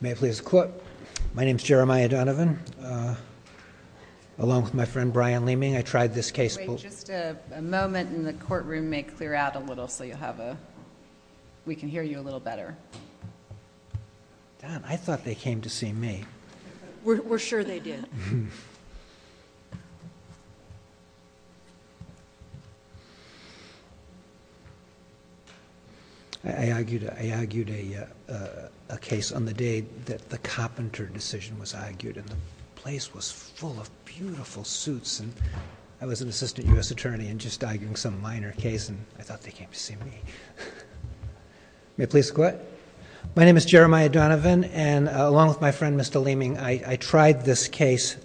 May it please the court, my name is Jeremiah Donovan, along with my friend Brian Leeming, I tried this case. Wait, just a moment and the courtroom may clear out a little so we can hear you a little better. I thought they came to see me. We're sure they did. I argued a case on the day that the Coppinter decision was argued and the place was full of beautiful suits and I was an assistant U.S. attorney and just arguing some minor case and I thought they came to see me. May it please the court. My name is Jeremiah Donovan and along with my friend Mr. Leeming, I tried this case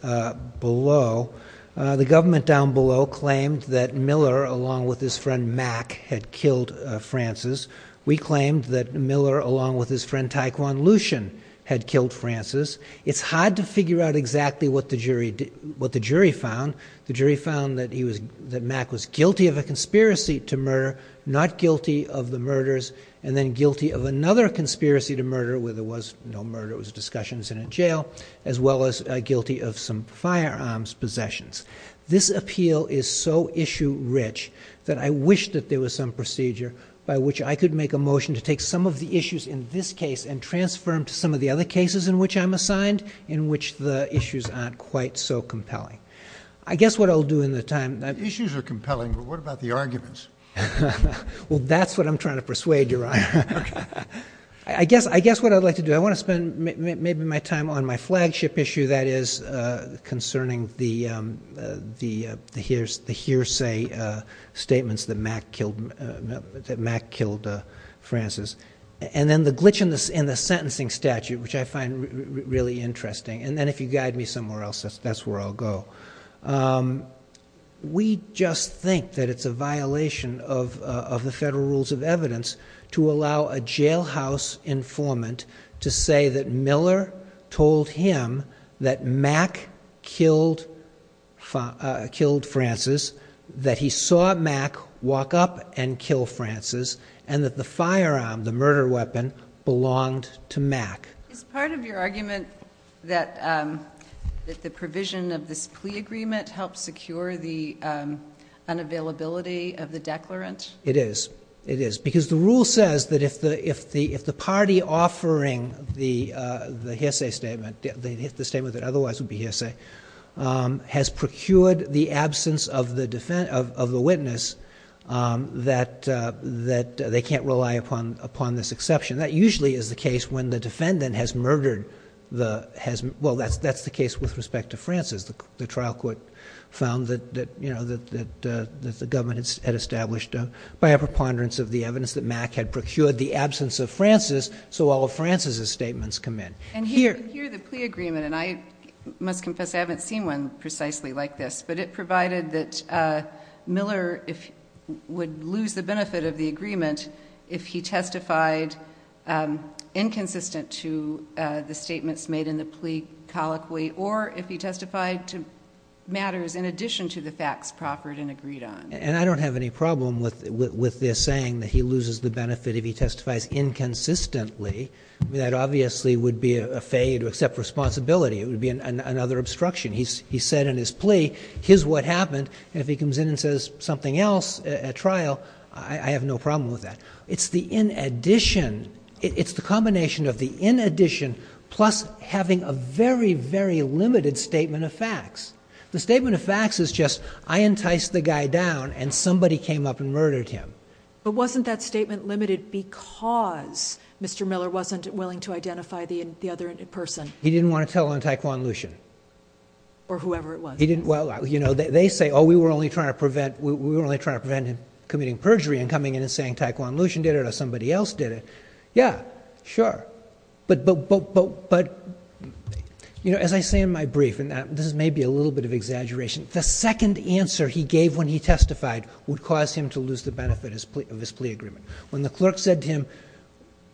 below. The government down below claimed that Miller along with his friend Mack had killed Francis. We claimed that Miller along with his friend Taekwon Lushin had killed Francis. It's hard to figure out exactly what the jury found. The jury found that Mack was guilty of a conspiracy to murder, not guilty of the murders, and then guilty of another conspiracy to murder where there was no murder, it was discussions in a jail, as well as guilty of some firearms possessions. This appeal is so issue rich that I wish that there was some procedure by which I could make a motion to take some of the issues in this case and transfer them to some of the other cases in which I'm assigned in which the issues aren't quite so compelling. I guess what I'll do in the time. Issues are compelling, but what about the arguments? Well, that's what I'm trying to persuade you on. I guess what I'd like to do, I want to spend maybe my time on my flagship issue that is concerning the hearsay statements that Mack killed Francis, and then the glitch in the sentencing statute, which I find really interesting, and then if you guide me somewhere else, that's where I'll go. We just think that it's a violation of the federal rules of evidence to allow a jailhouse informant to say that Miller told him that Mack killed Francis, that he saw Mack walk up and kill Francis, and that the firearm, the murder weapon, belonged to Mack. Is part of your argument that the provision of this plea agreement helps secure the unavailability of the declarant? It is. It is. Because the rule says that if the party offering the hearsay statement, the statement that otherwise would be hearsay, has procured the absence of the witness, that they can't rely upon this exception. That usually is the case when the defendant has murdered, well, that's the case with respect to Francis. The trial court found that the government had established by a preponderance of the evidence that Mack had procured the absence of Francis, so all of Francis' statements come in. And here the plea agreement, and I must confess I haven't seen one precisely like this, but it provided that Miller would lose the benefit of the agreement if he testified inconsistent to the statements made in the plea colloquy, or if he testified to matters in addition to the facts proffered and agreed on. And I don't have any problem with this saying that he loses the benefit if he testifies inconsistently. I mean, that obviously would be a failure to accept responsibility, it would be another obstruction. He said in his plea, here's what happened, and if he comes in and says something else at trial, I have no problem with that. It's the in addition, it's the combination of the in addition plus having a very, very limited statement of facts. The statement of facts is just, I enticed the guy down and somebody came up and murdered him. But wasn't that statement limited because Mr. Miller wasn't willing to identify the other person? He didn't want to tell on Taekwon Lushin. Or whoever it was. He didn't, well, you know, they say, oh, we were only trying to prevent, we were only trying to prevent him committing perjury and coming in and saying Taekwon Lushin did it or somebody else did it. Yeah, sure. But, but, but, but, but, you know, as I say in my brief, and this is maybe a little bit of exaggeration, the second answer he gave when he testified would cause him to lose the benefit of his plea agreement. When the clerk said to him,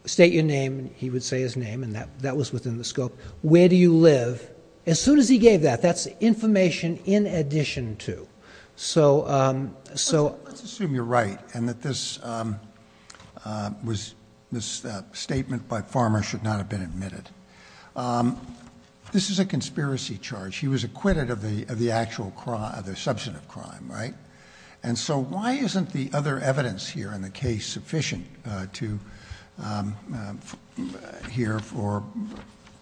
state your name, and he would say his name, and that was within the scope. Where do you live? As soon as he gave that. That's information in addition to. So, so. Let's assume you're right and that this was, this statement by Farmer should not have been admitted. This is a conspiracy charge. He was acquitted of the actual crime, the substantive crime, right? And so why isn't the other evidence here in the case sufficient to, here for,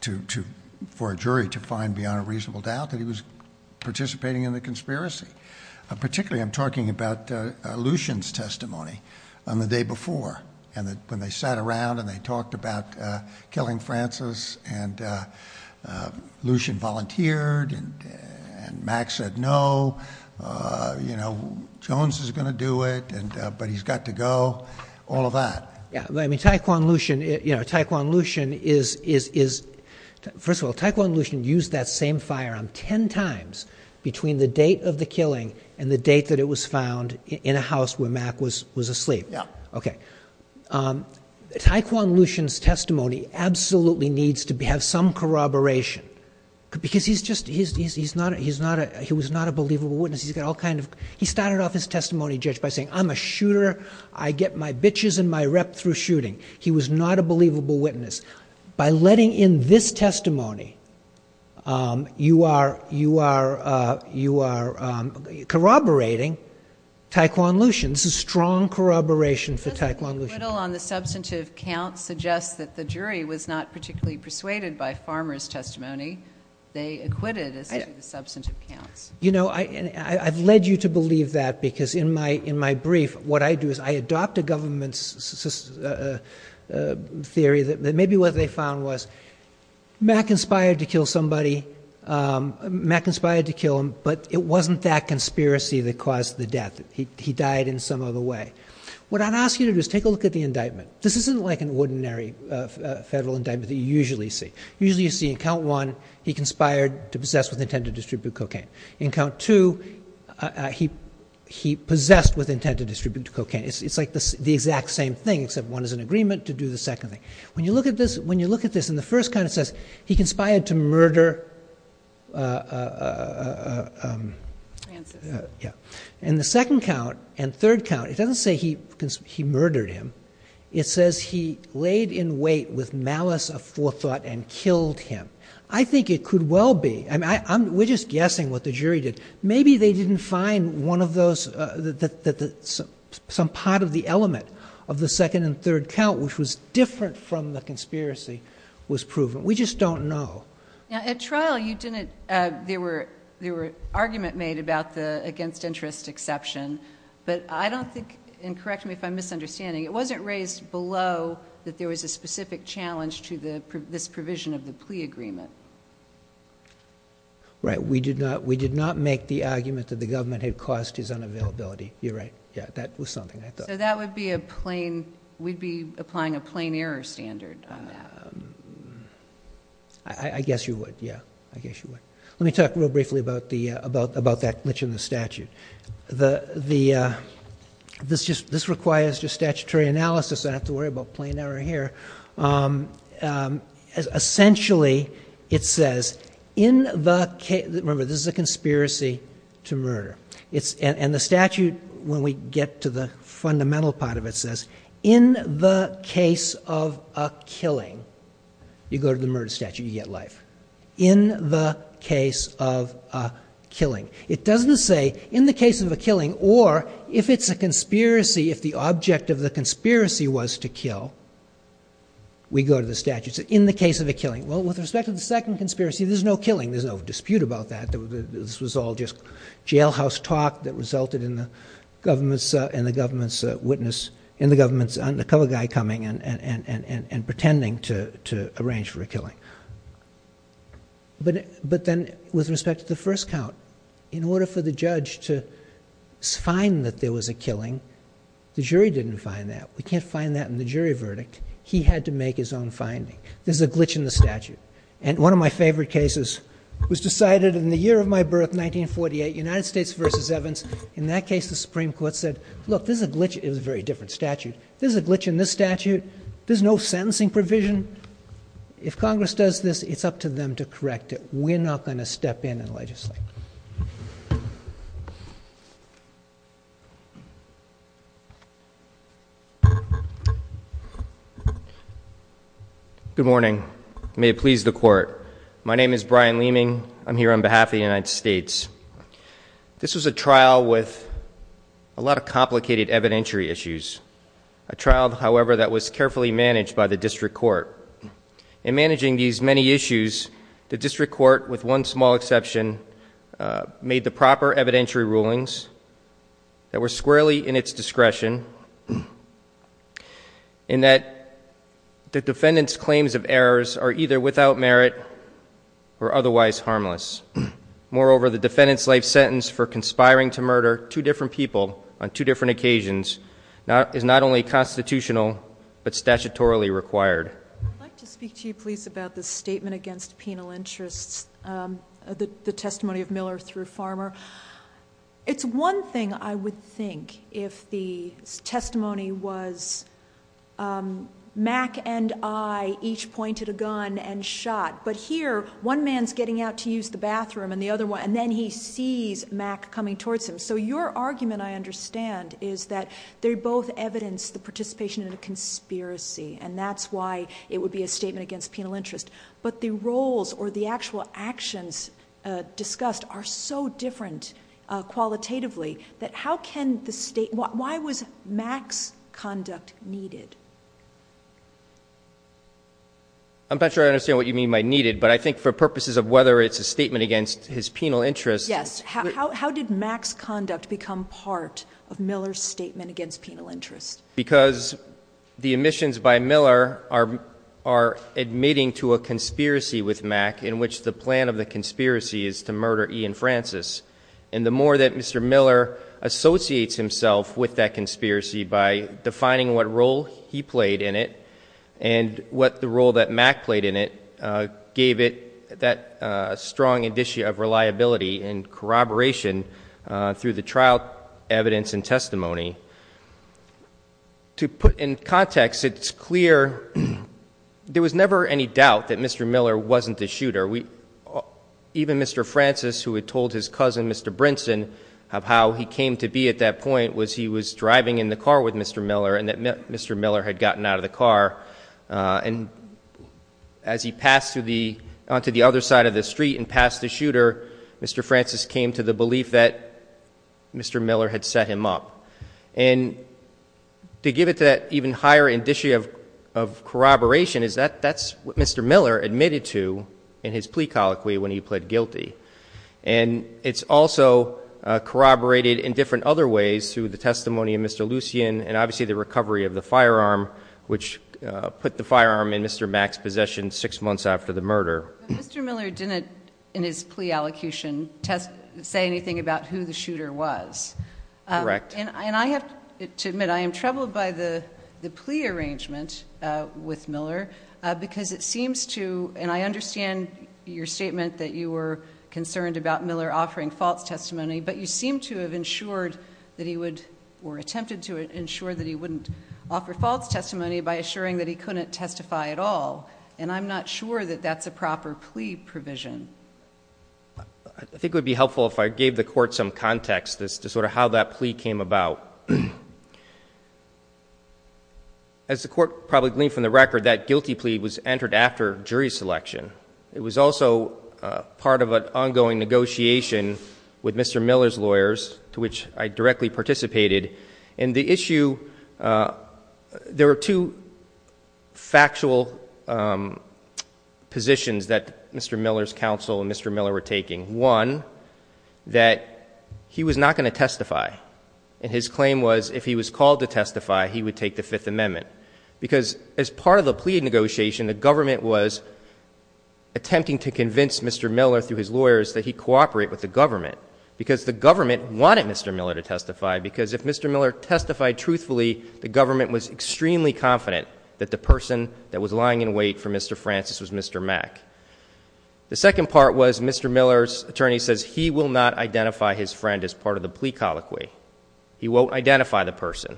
to, to, for a jury to find beyond a reasonable doubt that he was participating in the conspiracy? Particularly I'm talking about Lushin's testimony on the day before and that when they sat around and they talked about killing Francis and Lushin volunteered and, and Mack said, no, you know, Jones is going to do it and, but he's got to go. All of that. Yeah. I mean, Taekwon Lushin, you know, Taekwon Lushin is, is, is first of all, Taekwon Lushin used that same firearm 10 times between the date of the killing and the date that it was found in a house where Mack was, was asleep. Yeah. Okay. So Taekwon Lushin's testimony absolutely needs to be, have some corroboration because he's just, he's, he's, he's not a, he's not a, he was not a believable witness. He's got all kinds of, he started off his testimony judge by saying, I'm a shooter. I get my bitches and my rep through shooting. He was not a believable witness. By letting in this testimony, you are, you are, you are corroborating Taekwon Lushin. This is strong corroboration for Taekwon Lushin. The acquittal on the substantive counts suggests that the jury was not particularly persuaded by Farmer's testimony. They acquitted as to the substantive counts. You know, I, I've led you to believe that because in my, in my brief, what I do is I adopt a government's theory that maybe what they found was Mack inspired to kill somebody. Mack inspired to kill him, but it wasn't that conspiracy that caused the death. He died in some other way. What I'd ask you to do is take a look at the indictment. This isn't like an ordinary federal indictment that you usually see. Usually you see in count one, he conspired to possess with intent to distribute cocaine. In count two, he, he possessed with intent to distribute cocaine. It's like the exact same thing, except one is an agreement to do the second thing. When you look at this, when you look at this in the first kind, it says he conspired to murder Francis. And the second count and third count, it doesn't say he, he murdered him. It says he laid in wait with malice of forethought and killed him. I think it could well be, I mean, I, I'm, we're just guessing what the jury did. Maybe they didn't find one of those that, that, that some part of the element of the second and third count, which was different from the conspiracy, was proven. We just don't know. Now at trial, you didn't, uh, there were, there were argument made about the against interest exception, but I don't think, and correct me if I'm misunderstanding, it wasn't raised below that there was a specific challenge to the, this provision of the plea agreement. Right. We did not, we did not make the argument that the government had caused his unavailability. You're right. Yeah. That was something I thought. So that would be a plain, we'd be applying a plain error standard. Um, I guess you would. Yeah. I guess you would. Let me talk real briefly about the, uh, about, about that glitch in the statute. The, the, uh, this just, this requires just statutory analysis. I have to worry about plain error here. Um, um, as essentially it says in the case, remember this is a conspiracy to murder. It's, and the statute, when we get to the fundamental part of it says in the case of a killing, you go to the murder statute. You get life in the case of a killing. It doesn't say in the case of a killing, or if it's a conspiracy, if the object of the conspiracy was to kill, we go to the statutes in the case of a killing. Well, with respect to the second conspiracy, there's no killing. There's no dispute about that. There was, this was all just jailhouse talk that resulted in the government's, uh, and the government's, uh, witness in the government's undercover guy coming and, and, and, and, and pretending to, to arrange for a killing, but, but then with respect to the first count, in order for the judge to find that there was a killing, the jury didn't find that. We can't find that in the jury verdict. He had to make his own finding. There's a glitch in the statute. And one of my favorite cases was decided in the year of my birth, 1948, United States versus Evans. In that case, the Supreme court said, look, this is a glitch. It was a very different statute. There's a glitch in this statute. There's no sentencing provision. If Congress does this, it's up to them to correct it. We're not going to step in and legislate. Good morning. May it please the court. My name is Brian Leeming. I'm here on behalf of the United States. This was a trial with a lot of complicated evidentiary issues. A trial, however, that was carefully managed by the district court and managing these many issues, the district court with one small exception, uh, made the proper evidentiary rulings that were squarely in its discretion in that the defendant's claims of errors are either without merit or otherwise harmless. Moreover, the defendant's life sentence for conspiring to murder two different people on two different occasions now is not only constitutional, but statutorily required. I'd like to speak to you, please, about the statement against penal interests. Um, the, the testimony of Miller through farmer. It's one thing I would think if the testimony was, um, Mac and I each pointed a gun and shot, but here one man's getting out to use the bathroom and the other one, and then he sees Mac coming towards him. So your argument, I understand is that they're both evidence, the participation in a conspiracy, and that's why it would be a statement against penal interest, but the roles or the actual actions, uh, discussed are so different, uh, qualitatively that how can the state, why was Max conduct needed? I'm not sure I understand what you mean by needed, but I think for purposes of whether it's a statement against his penal interest, how did Max conduct become part of Miller's statement against penal interest? Because the emissions by Miller are, are admitting to a conspiracy with Mac in which the plan of the conspiracy is to murder Ian Francis. And the more that Mr. Miller associates himself with that conspiracy by defining what role he played in it and what the role that Mac played in it, uh, gave it that, uh, of reliability and corroboration, uh, through the trial evidence and testimony to put in context, it's clear. There was never any doubt that Mr. Miller wasn't the shooter. We even Mr. Francis who had told his cousin, Mr. Brinson of how he came to be at that point was he was driving in the car with Mr. Miller and that Mr. Miller had gotten out of the car. Uh, and as he passed through the, onto the other side of the street and passed the shooter, Mr. Francis came to the belief that Mr. Miller had set him up and to give it to that even higher indicia of, of corroboration is that that's what Mr. Miller admitted to in his plea colloquy when he pled guilty. And it's also corroborated in different other ways through the testimony of Mr. Lucien and obviously the recovery of the firearm, which, uh, put the firearm in Mr. Mac's possession six months after the murder. Mr. Miller didn't in his plea allocution test say anything about who the shooter was. Uh, and I have to admit, I am troubled by the plea arrangement, uh, with Miller, uh, because it seems to, and I understand your statement that you were concerned about Miller offering false testimony, but you seem to have ensured that he would or attempted to ensure that he wouldn't offer false testimony by assuring that he couldn't testify at all. And I'm not sure that that's a proper plea provision. I think it would be helpful if I gave the court some context as to sort of how that plea came about. As the court probably gleaned from the record, that guilty plea was entered after jury selection. It was also a part of an ongoing negotiation with Mr. Miller's lawyers to which I directly participated in the issue. Uh, there were two factual, um, positions that Mr. Miller's counsel and Mr. Miller were taking one that he was not going to testify. And his claim was if he was called to testify, he would take the fifth amendment because as part of the plea negotiation, the government was attempting to convince Mr. Miller through his lawyers that he cooperate with the government because the government wanted Mr. Miller to testify because if Mr. Miller testified truthfully, the government was extremely confident that the person that was lying in wait for Mr. Francis was Mr. Mack. The second part was Mr. Miller's attorney says he will not identify his friend as part of the plea colloquy. He won't identify the person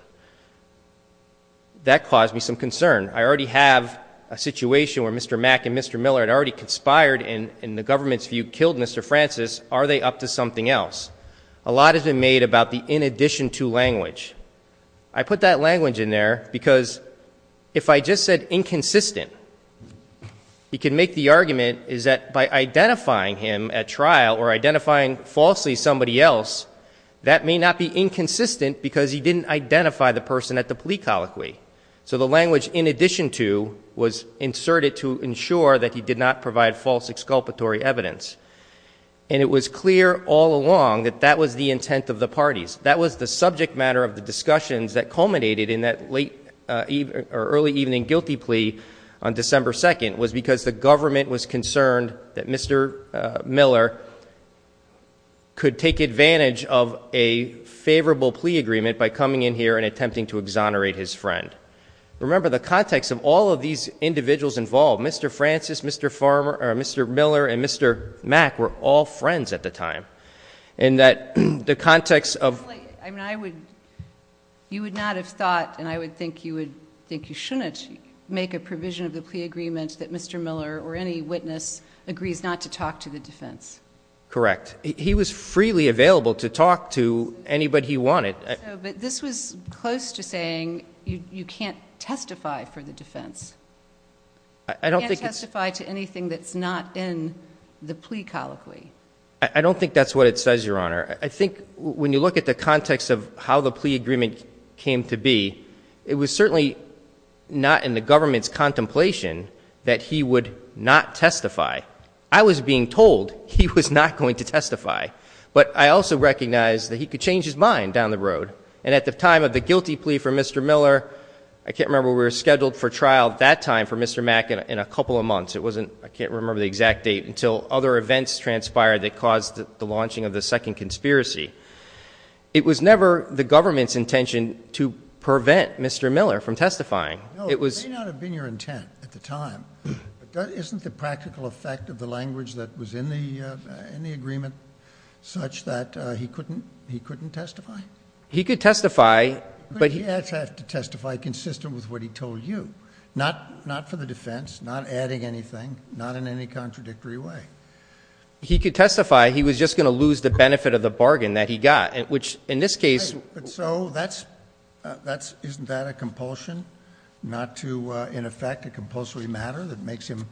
that caused me some concern. I already have a situation where Mr. Mack and Mr. Miller had already conspired in, in the government's view, killed Mr. Francis. Are they up to something else? A lot has been made about the in addition to language. I put that language in there because if I just said inconsistent, he can make the argument is that by identifying him at trial or identifying falsely, somebody else that may not be inconsistent because he didn't identify the person at the plea colloquy. So the language in addition to was inserted to ensure that he did not provide false exculpatory evidence. And it was clear all along that that was the intent of the parties. That was the subject matter of the discussions that culminated in that late evening or early evening guilty plea on December 2nd was because the government was concerned that Mr. Miller could take advantage of a favorable plea agreement by coming in here and attempting to exonerate his friend. Remember the context of all of these individuals involved, Mr. Francis, Mr. Farmer or Mr. Miller and Mr. Mack were all friends at the time. And that the context of, I mean, I would, you would not have thought, and I would think you would think you shouldn't make a provision of the plea agreement that Mr. Miller or any witness agrees not to talk to the defense. Correct. He was freely available to talk to anybody he wanted. This was close to saying you can't testify for the defense. I don't think testify to anything. That's not in the plea colloquy. I don't think that's what it says, your honor. I think when you look at the context of how the plea agreement came to be, it was certainly not in the government's contemplation that he would not testify. I was being told he was not going to testify, but I also recognize that he could change his mind down the road. And at the time of the guilty plea for Mr. Miller, I can't remember. We were scheduled for trial that day. At that time for Mr. Mack in a couple of months, it wasn't, I can't remember the exact date until other events transpired that caused the launching of the second conspiracy. It was never the government's intention to prevent Mr. Miller from testifying. It was. May not have been your intent at the time, but that isn't the practical effect of the language that was in the, uh, in the agreement such that, uh, he couldn't, he couldn't testify. He could testify, but he has to testify consistent with what he told you. Not, not for the defense, not adding anything, not in any contradictory way. He could testify. He was just going to lose the benefit of the bargain that he got, which in this case, so that's, uh, that's, isn't that a compulsion not to, uh, in effect, a compulsory matter that makes him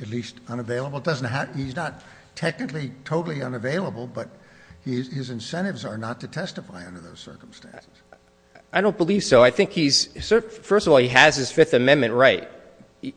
at least unavailable. It doesn't have, he's not technically totally unavailable, but his incentives are not to testify under those circumstances. I don't believe so. I think he's sort of, first of all, he has his fifth amendment, right?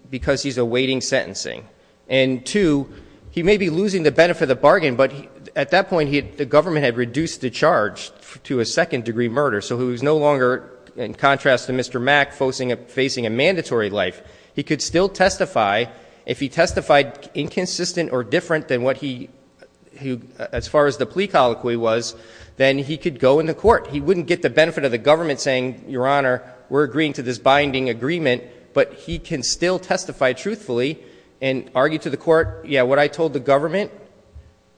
Because he's awaiting sentencing and two, he may be losing the benefit of the bargain, but at that point he had, the government had reduced the charge to a second degree murder. So he was no longer in contrast to Mr. Mack, focusing on facing a mandatory life. He could still testify if he testified inconsistent or different than what he, who, as far as the plea colloquy was, then he could go in the court. He wouldn't get the benefit of the government saying, your honor, we're agreeing to this binding agreement, but he can still testify truthfully and argue to the court. Yeah. What I told the government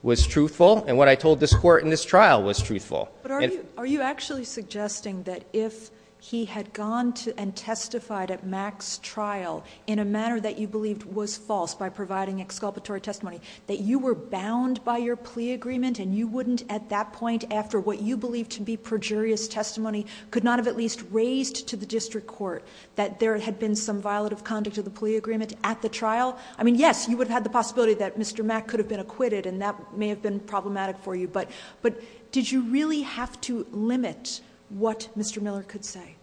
was truthful. And what I told this court in this trial was truthful. But are you, are you actually suggesting that if he had gone to and testified at Mac's trial in a manner that you believed was false by providing exculpatory testimony, that you were bound by your plea agreement and you wouldn't at that time, your jury's testimony could not have at least raised to the district court that there had been some violative conduct of the plea agreement at the trial? I mean, yes, you would have had the possibility that Mr. Mack could have been acquitted and that may have been problematic for you, but, but did you really have to limit what Mr. Miller could say?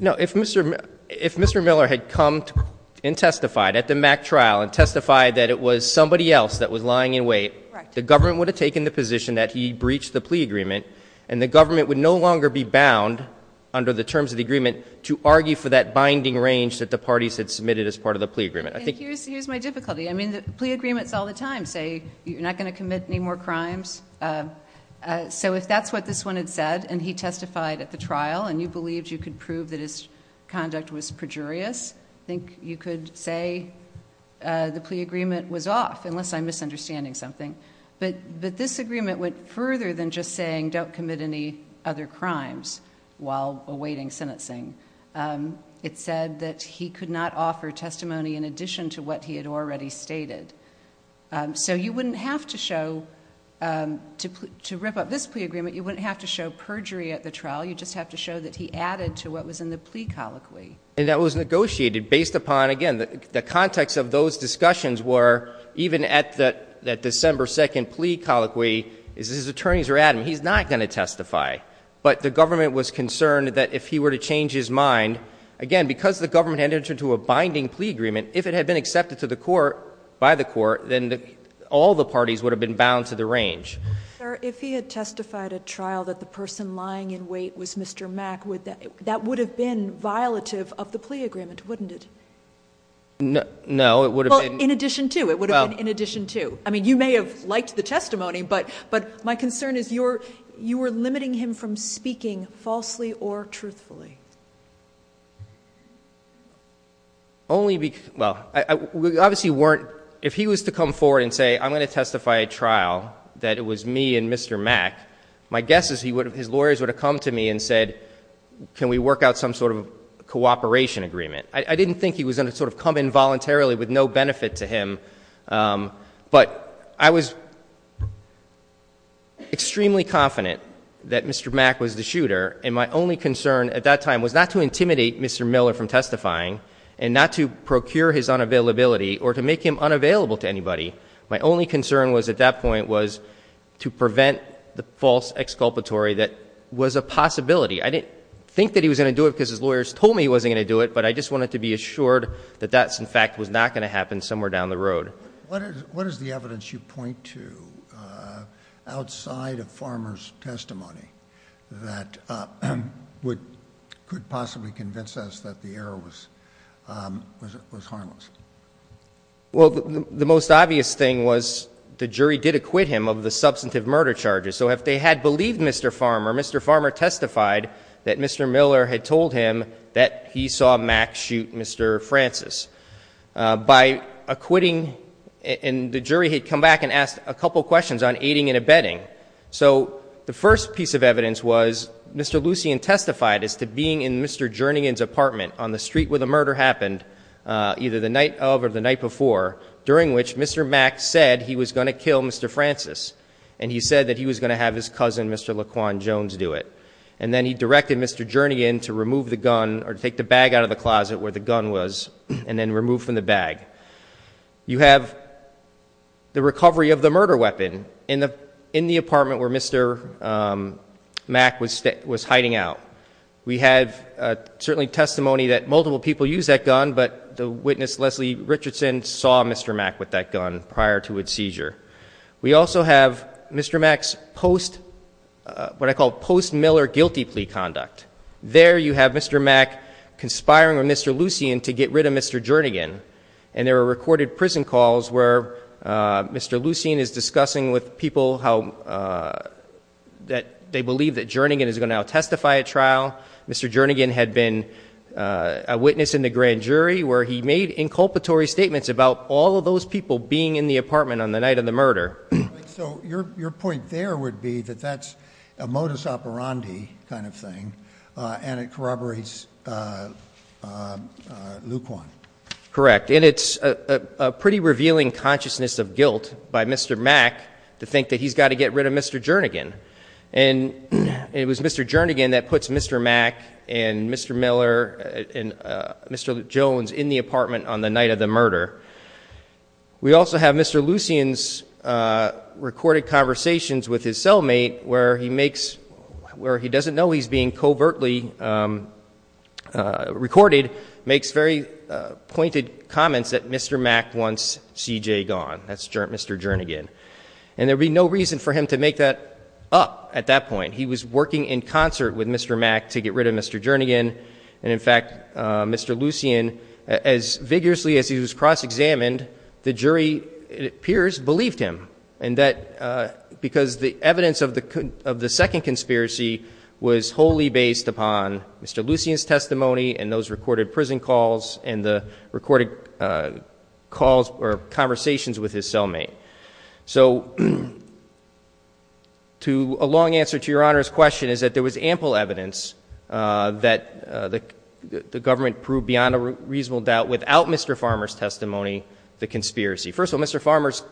No, if Mr. If Mr. Miller had come and testified at the Mac trial and testified that it was somebody else that was lying in wait, the government would have taken the position that he breached the plea agreement and the government would no longer be bound under the terms of the agreement to argue for that binding range that the parties had submitted as part of the plea agreement. I think here's, here's my difficulty. I mean, the plea agreements all the time say you're not going to commit any more crimes. Uh, uh, so if that's what this one had said and he testified at the trial and you believed you could prove that his conduct was perjurious, I think you could say, uh, the plea agreement was off unless I'm misunderstanding something. But, but this agreement went further than just saying, don't commit any other crimes while awaiting sentencing. Um, it said that he could not offer testimony in addition to what he had already stated. Um, so you wouldn't have to show, um, to, to rip up this plea agreement. You wouldn't have to show perjury at the trial. You just have to show that he added to what was in the plea colloquy. And that was negotiated based upon, again, the context of those discussions were even at that, that December 2nd plea colloquy is his attorneys are adamant. He's not going to testify, but the government was concerned that if he were to change his mind again, because the government had entered into a binding plea agreement, if it had been accepted to the court by the court, then all the parties would have been bound to the range. If he had testified at trial that the person lying in wait was Mr. Mack, would that, that would have been violative of the plea agreement, wouldn't it? No, no. It would have been in addition to, it would have been in addition to, I mean, you may have liked the testimony, but, but my concern is you're you were limiting him from speaking falsely or truthfully only because, well, I, we obviously weren't, if he was to come forward and say, I'm going to testify a trial that it was me and Mr. Mack, my guess is he would, his lawyers would have come to me and said, can we work out some sort of cooperation agreement? I didn't think he was going to sort of come in voluntarily with no benefit to him. Um, but I was extremely confident that Mr. Mack was the shooter. And my only concern at that time was not to intimidate Mr. Miller from testifying and not to procure his unavailability or to make him unavailable to anybody. My only concern was at that point was to prevent the false exculpatory. That was a possibility. I didn't think that he was going to do it because his lawyers told me he wasn't going to do it. But I just wanted to be assured that that's in fact was not going to happen somewhere down the road. What is, what is the evidence you point to, uh, outside of farmer's testimony that, uh, would could possibly convince us that the error was, um, was, was harmless? Well, the most obvious thing was the jury did acquit him of the substantive murder charges. So if they had believed Mr. Farmer, Mr. Farmer testified that Mr. Farmer, he saw Mack shoot Mr. Francis, uh, by acquitting and the jury had come back and asked a couple of questions on aiding and abetting. So the first piece of evidence was Mr. Lucien testified as to being in Mr. Jernigan's apartment on the street where the murder happened, uh, either the night of or the night before, during which Mr. Mack said he was going to kill Mr. Francis. And he said that he was going to have his cousin, Mr. Laquan Jones do it. And then he directed Mr. Jernigan to remove the gun or to take the bag out of the closet where the gun was and then remove from the bag. You have the recovery of the murder weapon in the, in the apartment where Mr. Um, Mack was, was hiding out. We have a certainly testimony that multiple people use that gun, but the witness Leslie Richardson saw Mr. Mack with that gun prior to his seizure. We also have Mr. Mack's post, uh, what I call post Miller guilty plea conduct there. You have Mr. Mack conspiring with Mr. Lucien to get rid of Mr. Jernigan. And there were recorded prison calls where, uh, Mr. Lucien is discussing with people how, uh, that they believe that Jernigan is going to now testify at trial. Mr. Jernigan had been a witness in the grand jury where he made inculpatory statements about all of those people being in the apartment on the night of the murder. So your, your point there would be that that's a modus operandi kind of thing. Uh, and it corroborates, uh, uh, uh, Luke one. Correct. And it's a pretty revealing consciousness of guilt by Mr. Mack to think that he's got to get rid of Mr. Jernigan. And it was Mr. Jernigan that puts Mr. Mack and Mr. Miller and Mr. Jones in the apartment on the night of the murder. We also have Mr. Lucien's, uh, recorded conversations with his cellmate where he makes where he doesn't know he's being covertly, um, uh, recorded makes very pointed comments that Mr. Mack wants CJ gone. That's Mr. Jernigan. And there'd be no reason for him to make that up at that point. He was working in concert with Mr. Mack to get rid of Mr. Jernigan. And in fact, uh, Mr. Lucien, as vigorously as he was cross-examined, the jury peers believed him and that, uh, because the evidence of the, of the second conspiracy was wholly based upon Mr. Lucien's testimony and those recorded prison calls and the recorded, uh, calls or conversations with his cellmate. So to a long answer to your honor's question is that there was ample evidence, uh, that, uh, the, the government proved beyond a reasonable doubt without Mr. Farmer's testimony, the conspiracy. First of all, Mr. Farmer's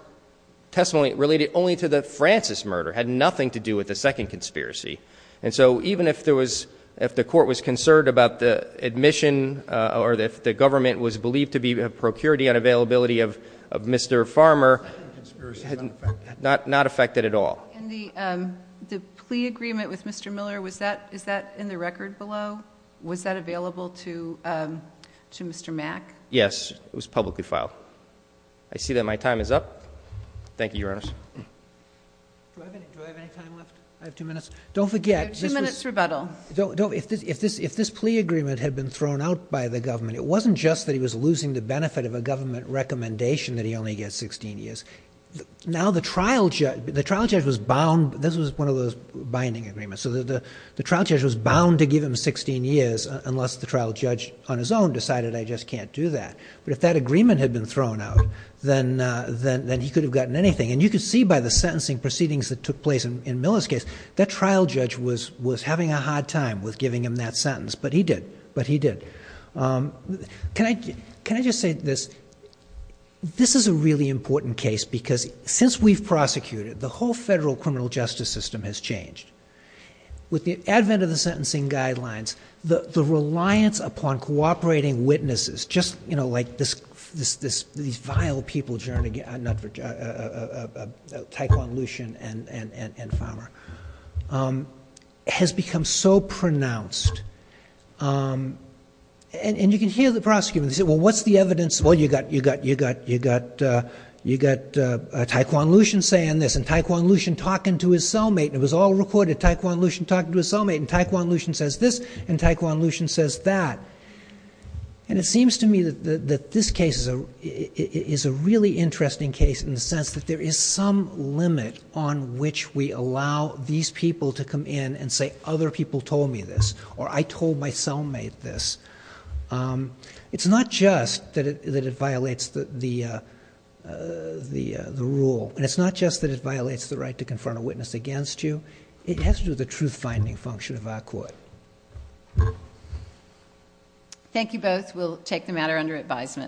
testimony related only to the Francis murder had nothing to do with the second conspiracy. And so even if there was, if the court was concerned about the admission, uh, or if the government was believed to be a procurity unavailability of, of Mr. Farmer, not, not affected at all. And the, um, the plea agreement with Mr. Miller, was that, is that in the record below? Was that available to, um, to Mr. Mack? Yes, it was publicly filed. I see that my time is up. Thank you. Your Honor. Do I have any, do I have any time left? I have two minutes. Don't forget two minutes rebuttal. Don't don't. If this, if this, if this plea agreement had been thrown out by the government, it wasn't just that he was losing the benefit of a government recommendation that he only gets 16 years. Now the trial judge, the trial judge was bound. This was one of those binding agreements. So the trial judge was bound to give him 16 years unless the trial judge on his own decided, I just can't do that. But if that agreement had been thrown out, then, uh, then, then he could have gotten anything. And you could see by the sentencing proceedings that took place in Miller's case, that trial judge was, was having a hard time with giving him that sentence, but he did, but he did. Um, can I, can I just say this? This is a really important case because since we've prosecuted the whole federal criminal justice system has changed with the advent of the sentencing guidelines, the, the reliance upon cooperating witnesses, just, you know, like this, this, this, these vile people journey, uh, not for a Taekwondo Lucian and, and, and, and farmer, um, has become so pronounced. Um, and you can hear the prosecutor and say, well, what's the evidence? Well, you got, you got, you got, you got, uh, you got, uh, Taekwondo Lucian saying this and Taekwondo Lucian talking to his cellmate and it was all recorded Taekwondo Lucian talking to his cellmate and Taekwondo Lucian says this and Taekwondo Lucian says that. And it seems to me that this case is a, it is a really interesting case in the sense that there is some limit on which we allow these people to come in and say, other people told me this or I told my cellmate this. Um, it's not just that it, that it violates the, the, uh, uh, the, uh, the rule and it's not just that it violates the right to confront a witness against you. It has to do with the truth finding function of our court. Thank you both. We'll take the matter under advisement.